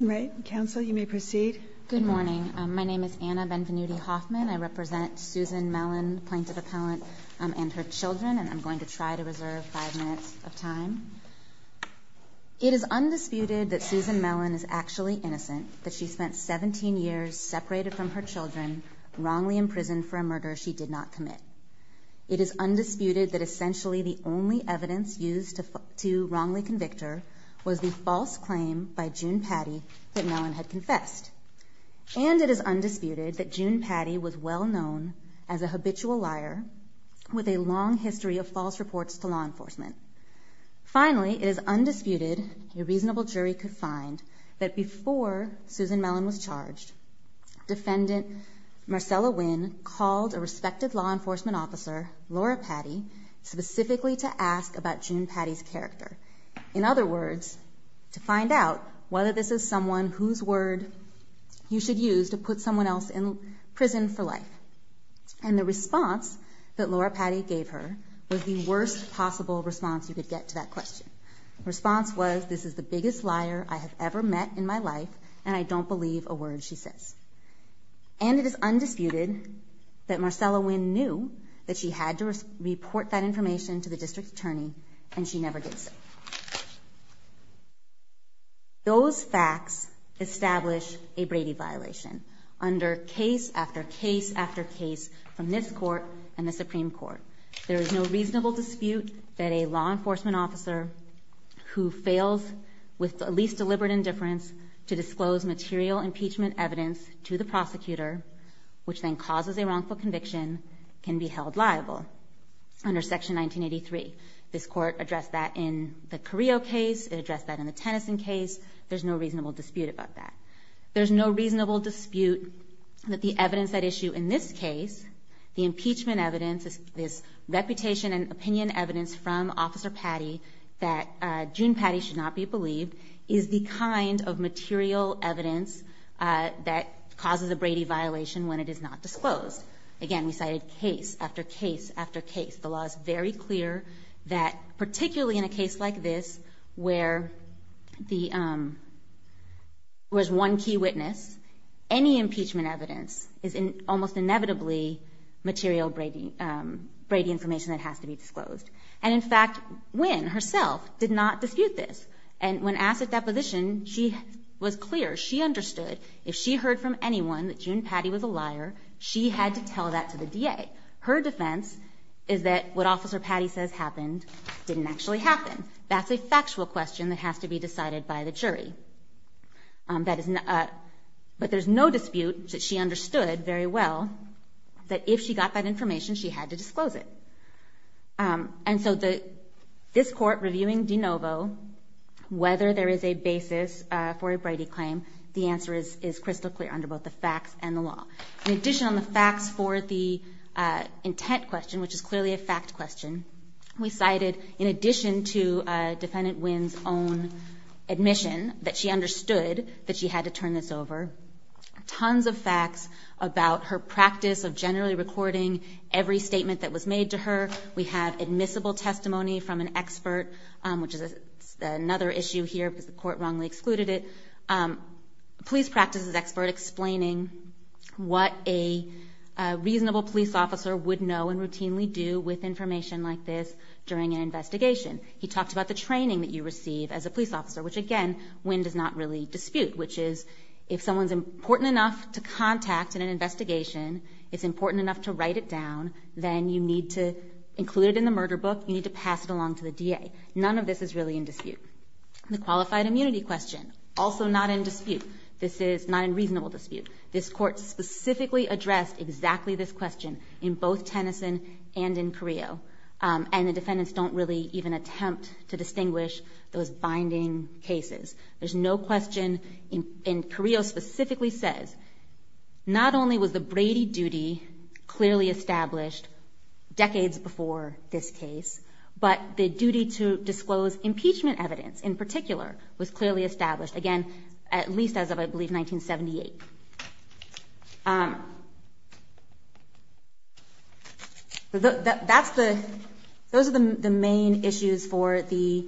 Good morning. My name is Anna Benvenuti-Hoffman. I represent Susan Mellen, plaintiff appellant, and her children, and I'm going to try to reserve five minutes of time. It is undisputed that Susan Mellen is actually innocent, that she spent 17 years separated from her children, wrongly imprisoned for a murder she did not commit. It is undisputed that essentially the only evidence used to wrongly convict her was the false claim by June Patti that Mellen had confessed. And it is undisputed that June Patti was well known as a habitual liar with a long history of false reports to law enforcement. Finally, it is undisputed, a reasonable jury could find, that before Susan Mellen was charged, defendant Marcella Winn called a respective law enforcement officer, Laura Patti, specifically to ask about June Patti's character. In other words, to find out whether this is someone whose word you should use to put someone else in prison for life. And the response that Laura Patti gave her was the worst possible response you could get to that question. The response was, this is the biggest liar I have ever met in my life, and I don't believe a word she says. And it is undisputed that Marcella Winn knew that she had to report that information to the district attorney, and she never did so. Those facts establish a Brady violation under case after case after case from this Court and the Supreme Court. There is no reasonable dispute that a law enforcement officer who fails with the least deliberate indifference to disclose material impeachment evidence to the prosecutor, which then causes a wrongful conviction, can be held liable under Section 1983. This Court addressed that in the Carrillo case, it addressed that in the Tennyson case, there is no reasonable dispute about that. There is no reasonable dispute that the evidence at issue in this case, the impeachment evidence, this reputation and opinion evidence from Officer Patti, that June Patti should not be believed, is the kind of material evidence that causes a Brady violation when it is not disclosed. Again, we cited case after case after case. The law is very clear that, particularly in a case like this, where there is one key witness, any impeachment evidence is almost inevitably material Brady information that has to be disclosed. And in fact, Nguyen herself did not dispute this. And when asked at deposition, she was clear, she understood if she heard from anyone that June Patti was a liar, she had to tell that to the DA. Her defense is that what Officer Patti says happened didn't actually happen. That's a factual question that has to be decided by the jury. But there's no dispute that she understood very well that if she got that information, she had to disclose it. And so this Court reviewing de novo, whether there is a basis for a Brady claim, the answer is crystal clear under both the facts and the law. In addition, on the facts for the intent question, which is clearly a fact question, we cited, in addition to Defendant Nguyen's own admission that she understood that she had to turn this over, tons of facts about her practice of generally recording every statement that was made to her. We have admissible testimony from an expert, which is another issue here because the Court wrongly excluded it. Police practice is expert explaining what a reasonable police officer would know and routinely do with information like this during an investigation. He talked about the training that you receive as a police officer, which again, Nguyen does not really dispute, which is if someone's important enough to contact in an investigation, it's important enough to write it down, then you need to include it in the murder book, you need to pass it along to the DA. None of this is really in dispute. The qualified immunity question, also not in dispute. This is not a reasonable dispute. This Court specifically addressed exactly this question in both Tennyson and in Carrillo. And the defendants don't really even attempt to distinguish those binding cases. There's no question, and Carrillo specifically says, not only was the Brady duty clearly established decades before this case, but the duty to disclose impeachment evidence in particular was clearly established, again, at least as of, I believe, 1978. Those are the main issues for the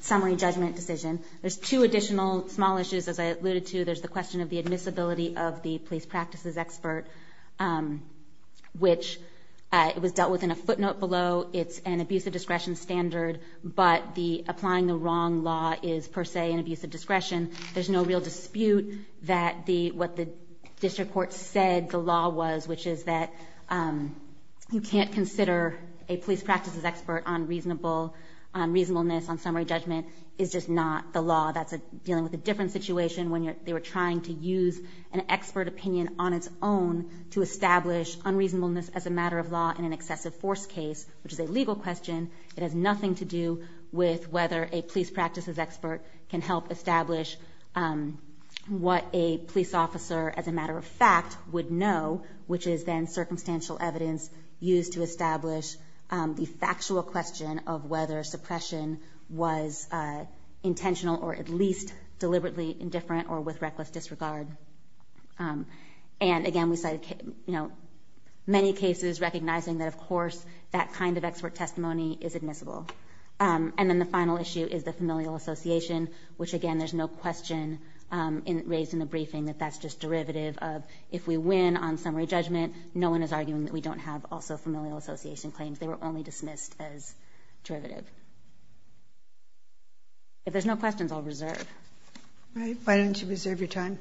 summary judgment decision. There's two additional small issues, as I alluded to. There's the question of the admissibility of the police practices expert, which was dealt with in a footnote below. It's an abuse of discretion standard, but applying the wrong law is per se an abuse of discretion. There's no real dispute that what the district court said the law was, which is that you can't consider a police practices expert on reasonableness on summary judgment is just not the law. That's dealing with a different situation when they were trying to use an expert opinion on its own to establish unreasonableness as a matter of law in an excessive force case, which is a legal question. It has nothing to do with whether a police practices expert can help establish what a police officer, as a matter of fact, would know, which is then circumstantial evidence used to establish the factual question of whether suppression was intentional or at least deliberately indifferent or with reckless disregard. Again, we cited many cases recognizing that, of course, that kind of expert testimony is admissible. Then the final issue is the familial association, which, again, there's no question raised in the briefing that that's just derivative of, if we win on summary judgment, no one is arguing that we don't have also familial association claims. They were only dismissed as derivative. If there's no questions, I'll reserve. All right. Why don't you reserve your time?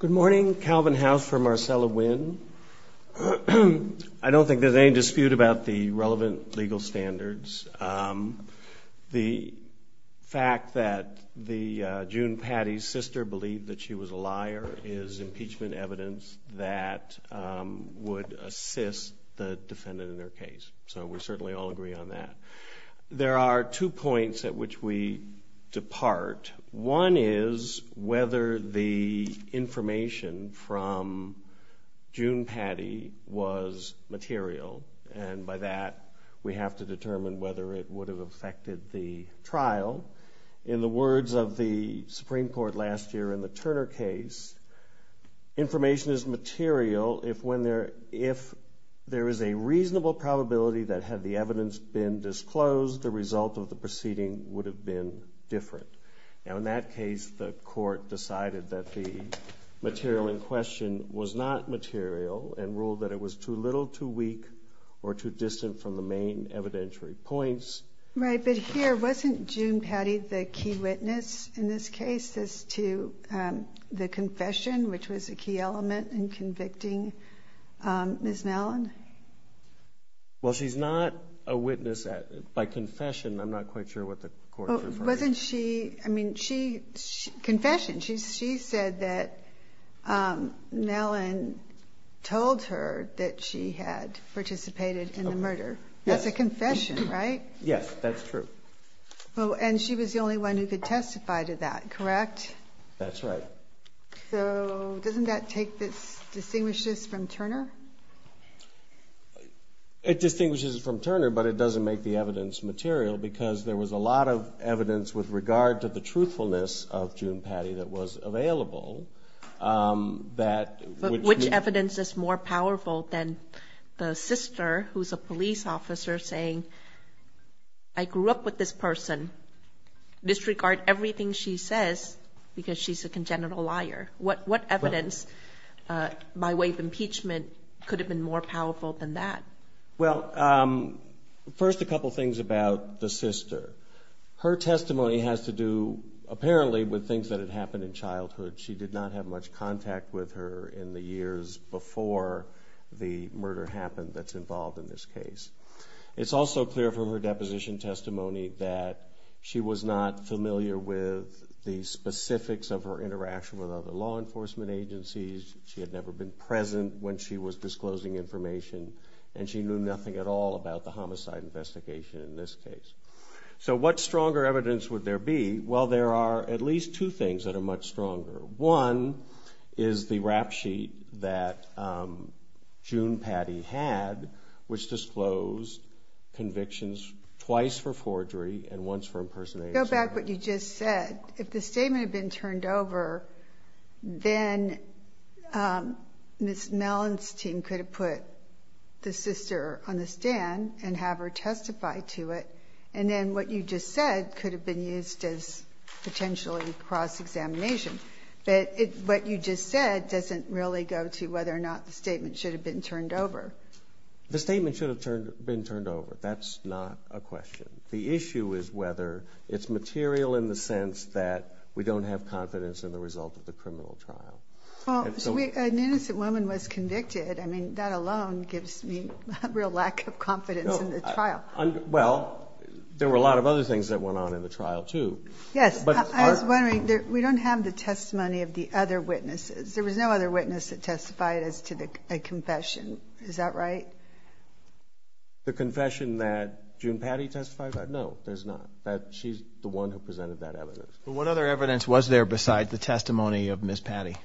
Good morning. Calvin House for Marcella Wynn. I don't think there's any dispute about the relevant legal standards. The fact that June Patti's sister believed that she was a liar is impeachment evidence that would assist the defendant in their case. We certainly all agree on that. There are two points at which we depart. One is whether the information from June Patti was material. By that, we have to determine whether it would have affected the trial. In the words of the Supreme Court last year in the Turner case, information is material if there is a reasonable probability that had the evidence been disclosed, the result of the proceeding would have been different. Now, in that case, the court decided that the material in question was not material and ruled that it was too little, too weak, or too distant from the main evidentiary points. Right. But here, wasn't June Patti the key witness in this case as to the confession, which was a key element in convicting Ms. Mellon? Well, she's not a witness. By confession, I'm not quite sure what the court referred to. I mean, confession. She said that Mellon told her that she had participated in the murder. That's a confession, right? Yes, that's true. And she was the only one who could testify to that, correct? That's right. So doesn't that distinguish this from Turner? It distinguishes it from Turner, but it doesn't make the evidence material because there was a lot of evidence with regard to the truthfulness of June Patti that was available. But which evidence is more powerful than the sister, who's a police officer, saying I grew up with this person, disregard everything she says because she's a congenital liar? What evidence by way of impeachment could have been more powerful than that? Well, first a couple things about the sister. Her testimony has to do, apparently, with things that had happened in childhood. She did not have much contact with her in the years before the murder happened that's involved in this case. It's also clear from her deposition testimony that she was not familiar with the specifics of her interaction with other law enforcement agencies. She had never been present when she was disclosing information, and she knew nothing at all about the homicide investigation in this case. So what stronger evidence would there be? Well, there are at least two things that are much stronger. One is the rap sheet that June Patti had, which disclosed convictions twice for forgery and once for impersonation. Go back to what you just said. If the statement had been turned over, then Ms. Mellenstein could have put the sister on the stand and have her testify to it, and then what you just said could have been used as potentially cross-examination. But what you just said doesn't really go to whether or not the statement should have been turned over. The statement should have been turned over. That's not a question. The issue is whether it's material in the sense that we don't have confidence in the result of the criminal trial. An innocent woman was convicted. I mean, that alone gives me a real lack of confidence in the trial. Well, there were a lot of other things that went on in the trial, too. Yes. I was wondering, we don't have the testimony of the other witnesses. There was no other witness that testified as to a confession. Is that right? The confession that June Patti testified? No, there's not. She's the one who presented that evidence. Well, what other evidence was there besides the testimony of Ms. Patti?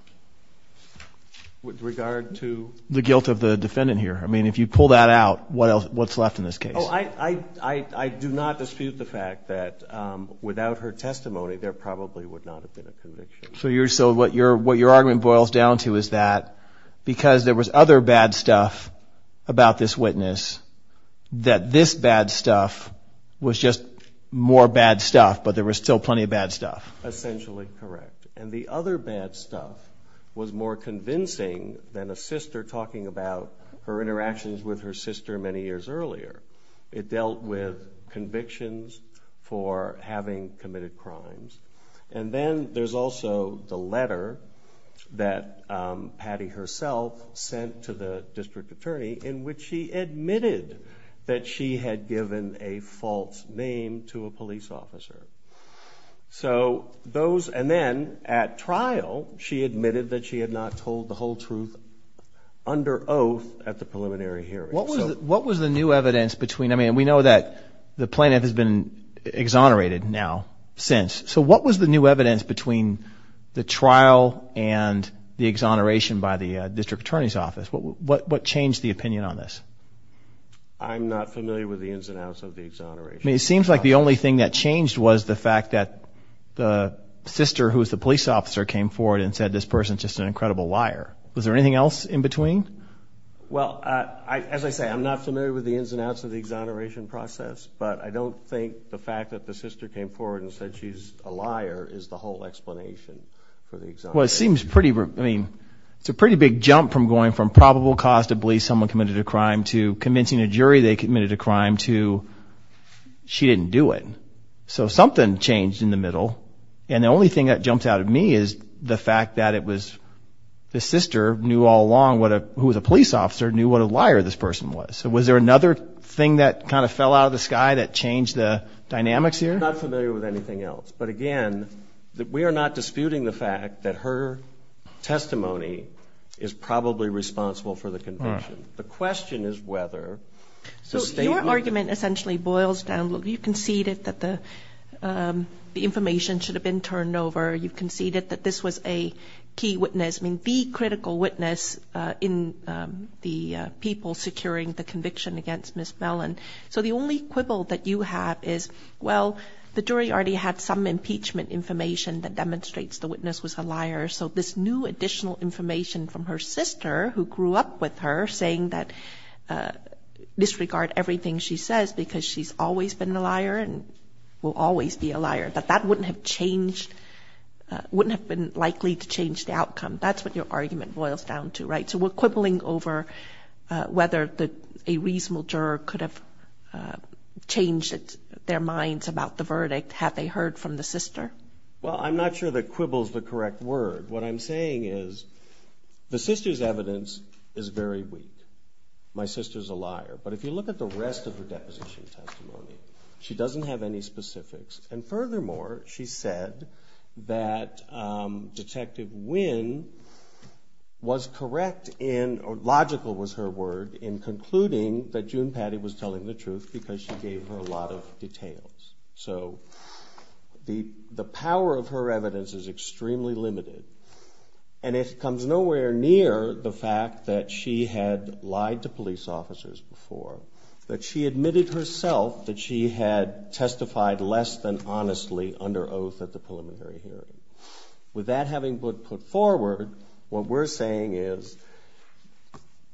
With regard to? The guilt of the defendant here. I mean, if you pull that out, what's left in this case? Oh, I do not dispute the fact that without her testimony, there probably would not have been a conviction. So what your argument boils down to is that because there was other bad stuff about this witness, that this bad stuff was just more bad stuff, but there was still plenty of bad stuff. Essentially correct. And the other bad stuff was more convincing than a sister talking about her interactions with her sister many years earlier. It dealt with convictions for having committed crimes. And then there's also the letter that Patti herself sent to the district attorney in which she admitted that she had given a false name to a police officer. And then at trial, she admitted that she had not told the whole truth under oath at the preliminary hearing. What was the new evidence between? I mean, we know that the plaintiff has been exonerated now since. So what was the new evidence between the trial and the exoneration by the district attorney's office? What changed the opinion on this? I'm not familiar with the ins and outs of the exoneration. I mean, it seems like the only thing that changed was the fact that the sister, who was the police officer, came forward and said this person is just an incredible liar. Was there anything else in between? Well, as I say, I'm not familiar with the ins and outs of the exoneration process, but I don't think the fact that the sister came forward and said she's a liar is the whole explanation for the exoneration. Well, it seems pretty, I mean, it's a pretty big jump from going from probable cause to believe someone committed a crime to convincing a jury they committed a crime to she didn't do it. So something changed in the middle. And the only thing that jumped out at me is the fact that it was the sister knew all along, who was a police officer, knew what a liar this person was. So was there another thing that kind of fell out of the sky that changed the dynamics here? I'm not familiar with anything else. But, again, we are not disputing the fact that her testimony is probably responsible for the conviction. The question is whether the statement of the conviction. So your argument essentially boils down, look, you conceded that the information should have been turned over. You conceded that this was a key witness. I mean, the critical witness in the people securing the conviction against Miss Mellon. So the only quibble that you have is, well, the jury already had some impeachment information that demonstrates the witness was a liar. So this new additional information from her sister who grew up with her saying that disregard everything she says because she's always been a liar and will always be a liar, that that wouldn't have changed, wouldn't have been likely to change the outcome. That's what your argument boils down to, right? So we're quibbling over whether a reasonable juror could have changed their minds about the verdict had they heard from the sister? Well, I'm not sure that quibble is the correct word. What I'm saying is the sister's evidence is very weak. My sister's a liar. But if you look at the rest of her deposition testimony, she doesn't have any specifics. And furthermore, she said that Detective Wynn was correct in, or logical was her word, in concluding that June Patti was telling the truth because she gave her a lot of details. So the power of her evidence is extremely limited. And it comes nowhere near the fact that she had lied to police officers before, that she admitted herself that she had testified less than honestly under oath at the preliminary hearing. With that having been put forward, what we're saying is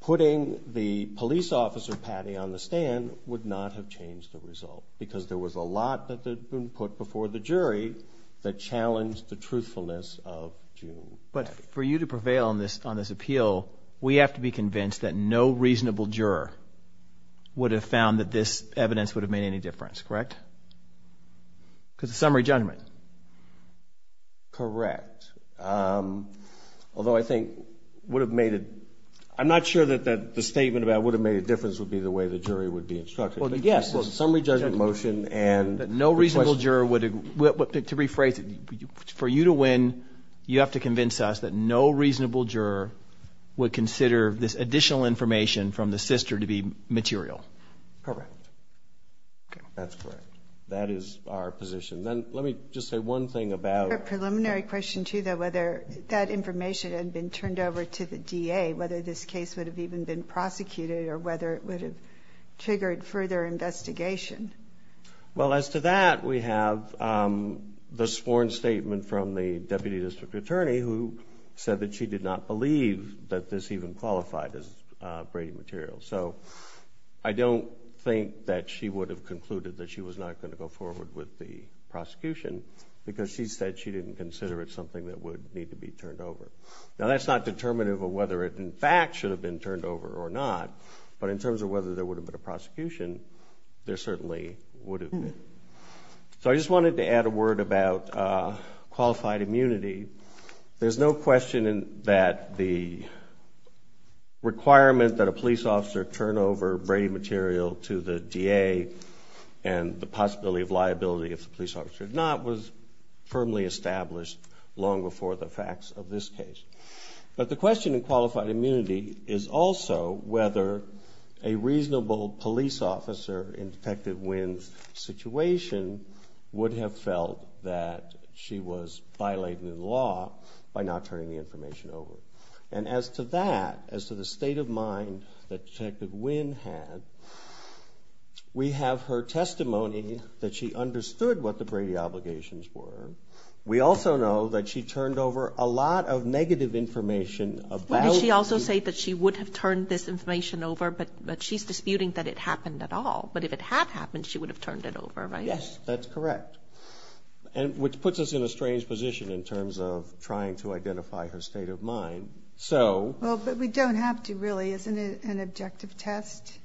putting the police officer Patti on the stand would not have changed the result because there was a lot that had been put before the jury that challenged the truthfulness of June Patti. But for you to prevail on this appeal, we have to be convinced that no reasonable juror would have found that this evidence would have made any difference, correct? Because of summary judgment. Correct. Although I think would have made it – I'm not sure that the statement about would have made a difference would be the way the jury would be instructed. Well, yes. Well, the summary judgment motion and – To rephrase it, for you to win, you have to convince us that no reasonable juror would consider this additional information from the sister to be material. Correct. That's correct. That is our position. Then let me just say one thing about – Your preliminary question, too, though, whether that information had been turned over to the DA, whether this case would have even been prosecuted or whether it would have triggered further investigation. Well, as to that, we have the sworn statement from the Deputy District Attorney who said that she did not believe that this even qualified as Brady material. So I don't think that she would have concluded that she was not going to go forward with the prosecution because she said she didn't consider it something that would need to be turned over. Now, that's not determinative of whether it, in fact, should have been turned over or not. But in terms of whether there would have been a prosecution, there certainly would have been. So I just wanted to add a word about qualified immunity. There's no question that the requirement that a police officer turn over Brady material to the DA and the possibility of liability if the police officer did not was firmly established long before the facts of this case. But the question in qualified immunity is also whether a reasonable police officer in Detective Wynn's situation would have felt that she was violating the law by not turning the information over. And as to that, as to the state of mind that Detective Wynn had, we have her testimony that she understood what the Brady obligations were. We also know that she turned over a lot of negative information about... Did she also say that she would have turned this information over? But she's disputing that it happened at all. But if it had happened, she would have turned it over, right? Yes, that's correct. And which puts us in a strange position in terms of trying to identify her state of mind. So... Well, but we don't have to really. Isn't it an objective test?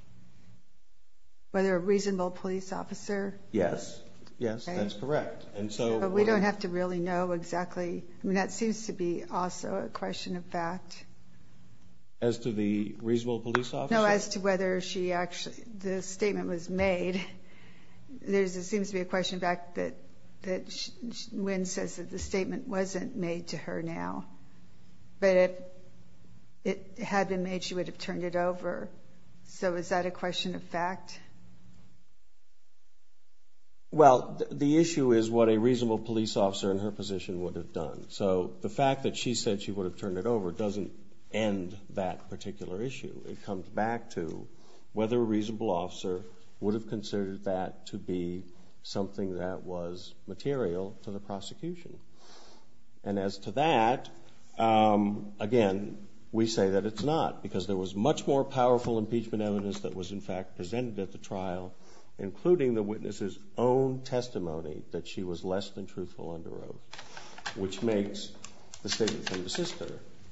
Whether a reasonable police officer... Yes. Yes, that's correct. But we don't have to really know exactly. I mean, that seems to be also a question of fact. As to the reasonable police officer? No, as to whether she actually... The statement was made. There seems to be a question of fact that Wynn says that the statement wasn't made to her now. But if it had been made, she would have turned it over. So is that a question of fact? Well, the issue is what a reasonable police officer in her position would have done. So the fact that she said she would have turned it over doesn't end that particular issue. It comes back to whether a reasonable officer would have considered that to be something that was material to the prosecution. And as to that, again, we say that it's not. Because there was much more powerful impeachment evidence that was, in fact, presented at the trial, including the witness's own testimony that she was less than truthful under oath, which makes the statement from the sister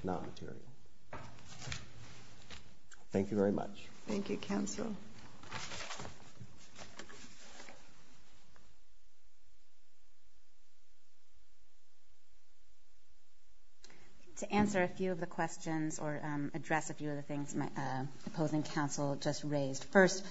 not material. Thank you very much. Thank you, counsel. Thank you. To answer a few of the questions or address a few of the things my opposing counsel just raised. First,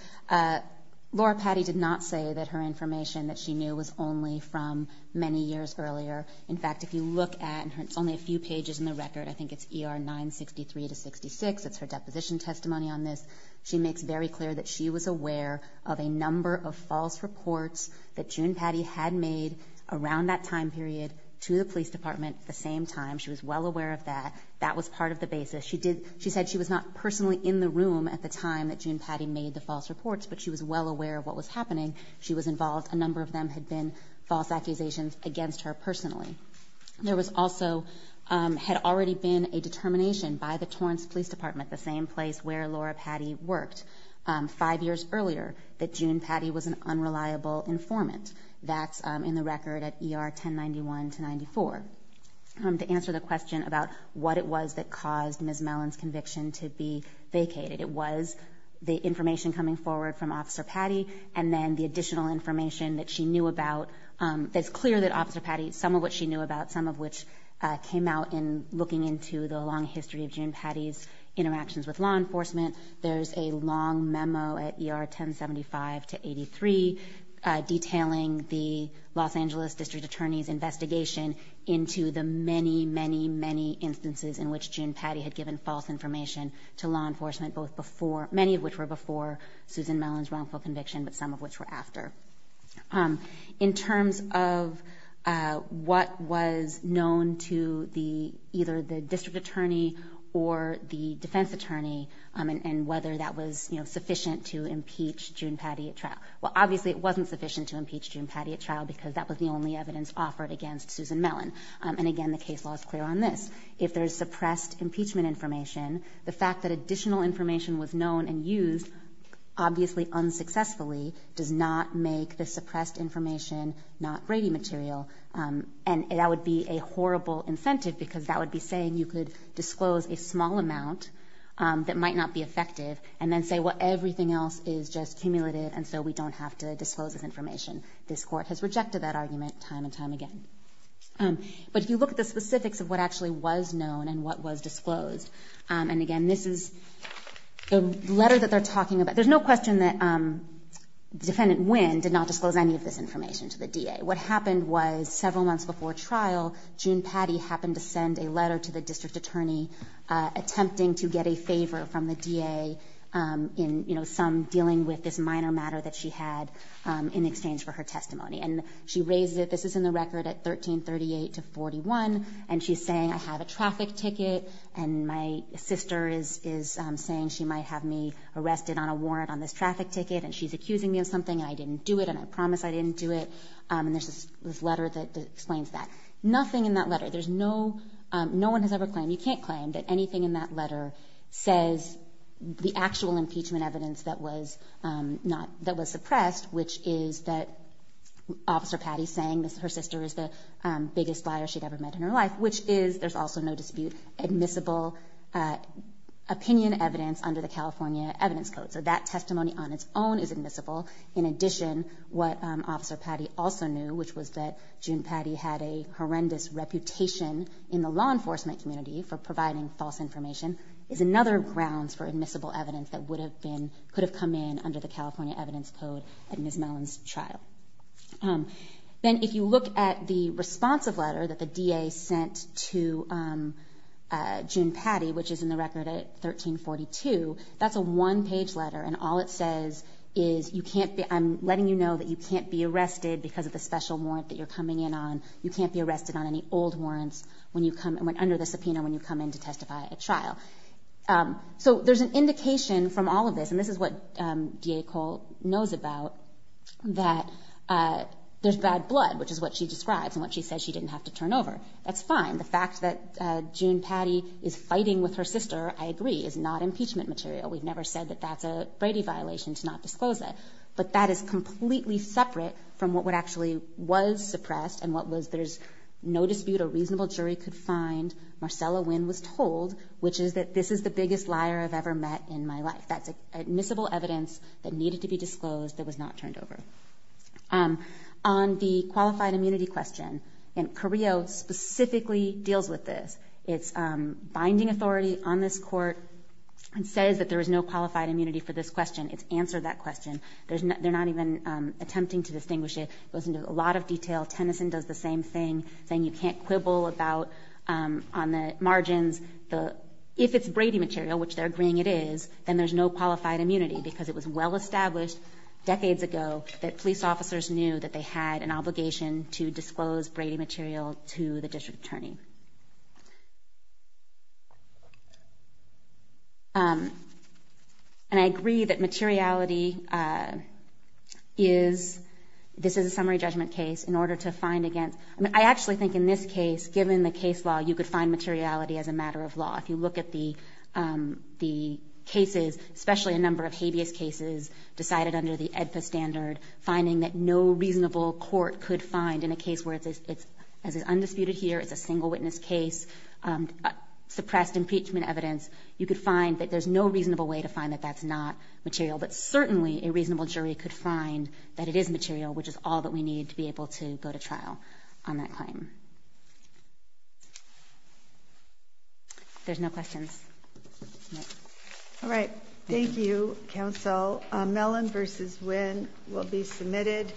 Laura Patti did not say that her information that she knew was only from many years earlier. In fact, if you look at only a few pages in the record, I think it's ER 963 to 66. It's her deposition testimony on this. She makes very clear that she was aware of a number of false reports that June Patti had made around that time period to the police department at the same time. She was well aware of that. That was part of the basis. She said she was not personally in the room at the time that June Patti made the false reports, but she was well aware of what was happening. She was involved. A number of them had been false accusations against her personally. There also had already been a determination by the Torrance Police Department, the same place where Laura Patti worked, five years earlier, that June Patti was an unreliable informant. That's in the record at ER 1091 to 94. To answer the question about what it was that caused Ms. Mellon's conviction to be vacated, it was the information coming forward from Officer Patti and then the additional information that she knew about. It's clear that Officer Patti, some of what she knew about, some of which came out in looking into the long history of June Patti's interactions with law enforcement. There's a long memo at ER 1075 to 83 detailing the Los Angeles District Attorney's investigation into the many, many, many instances in which June Patti had given false information to law enforcement, many of which were before Susan Mellon's wrongful conviction, but some of which were after. In terms of what was known to either the District Attorney or the Defense Attorney and whether that was sufficient to impeach June Patti at trial, well, obviously it wasn't sufficient to impeach June Patti at trial because that was the only evidence offered against Susan Mellon. And again, the case law is clear on this. If there's suppressed impeachment information, the fact that additional information was known and used, obviously unsuccessfully, does not make the suppressed information not grating material. And that would be a horrible incentive because that would be saying you could disclose a small amount that might not be effective and then say, well, everything else is just cumulative and so we don't have to disclose this information. This Court has rejected that argument time and time again. But if you look at the specifics of what actually was known and what was disclosed, and again, this is the letter that they're talking about. There's no question that Defendant Wynn did not disclose any of this information to the DA. What happened was several months before trial, June Patti happened to send a letter to the District Attorney attempting to get a favor from the DA in some dealing with this minor matter that she had in exchange for her testimony. And she raised it. This is in the record at 1338 to 41. And she's saying, I have a traffic ticket. And my sister is saying she might have me arrested on a warrant on this traffic ticket. And she's accusing me of something. And I didn't do it. And I promise I didn't do it. And there's this letter that explains that. Nothing in that letter. There's no one has ever claimed. You can't claim that anything in that letter says the actual impeachment evidence that was suppressed, which is that Officer Patti saying her sister is the biggest liar she'd ever met in her life, which is, there's also no dispute, admissible opinion evidence under the California Evidence Code. So that testimony on its own is admissible. In addition, what Officer Patti also knew, which was that June Patti had a horrendous reputation in the law enforcement community for providing false information, is another grounds for admissible evidence that could have come in under the California Evidence Code at Ms. Mellon's trial. Then if you look at the responsive letter that the DA sent to June Patti, which is in the record at 1342, that's a one-page letter. And all it says is, I'm letting you know that you can't be arrested because of the special warrant that you're coming in on. You can't be arrested on any old warrants under the subpoena when you come in to testify at a trial. So there's an indication from all of this, and this is what DA Cole knows about, that there's bad blood, which is what she describes and what she says she didn't have to turn over. That's fine. The fact that June Patti is fighting with her sister, I agree, is not impeachment material. We've never said that that's a Brady violation to not disclose that. But that is completely separate from what actually was suppressed and what was, there's no dispute a reasonable jury could find, Marcella Wynn was told, which is that this is the biggest liar I've ever met in my life. That's admissible evidence that needed to be disclosed that was not turned over. On the qualified immunity question, and Carrillo specifically deals with this, it's binding authority on this court and says that there is no qualified immunity for this question. It's answered that question. They're not even attempting to distinguish it. It goes into a lot of detail. Tennyson does the same thing, saying you can't quibble about on the margins. If it's Brady material, which they're agreeing it is, then there's no qualified immunity because it was well established decades ago that police officers knew that they had an obligation to disclose Brady material to the district attorney. And I agree that materiality is, this is a summary judgment case, in order to find against, I mean, I actually think in this case, given the case law, you could find materiality as a matter of law. If you look at the cases, especially a number of habeas cases decided under the EDFA standard, finding that no reasonable court could find in a case where it's, as is undisputed here, it's a single witness case, suppressed impeachment evidence, you could find that there's no reasonable way to find that that's not material. But certainly a reasonable jury could find that it is material, which is all that we need to be able to go to trial on that claim. If there's no questions. All right. Thank you, counsel. Mellon v. Winn will be submitted.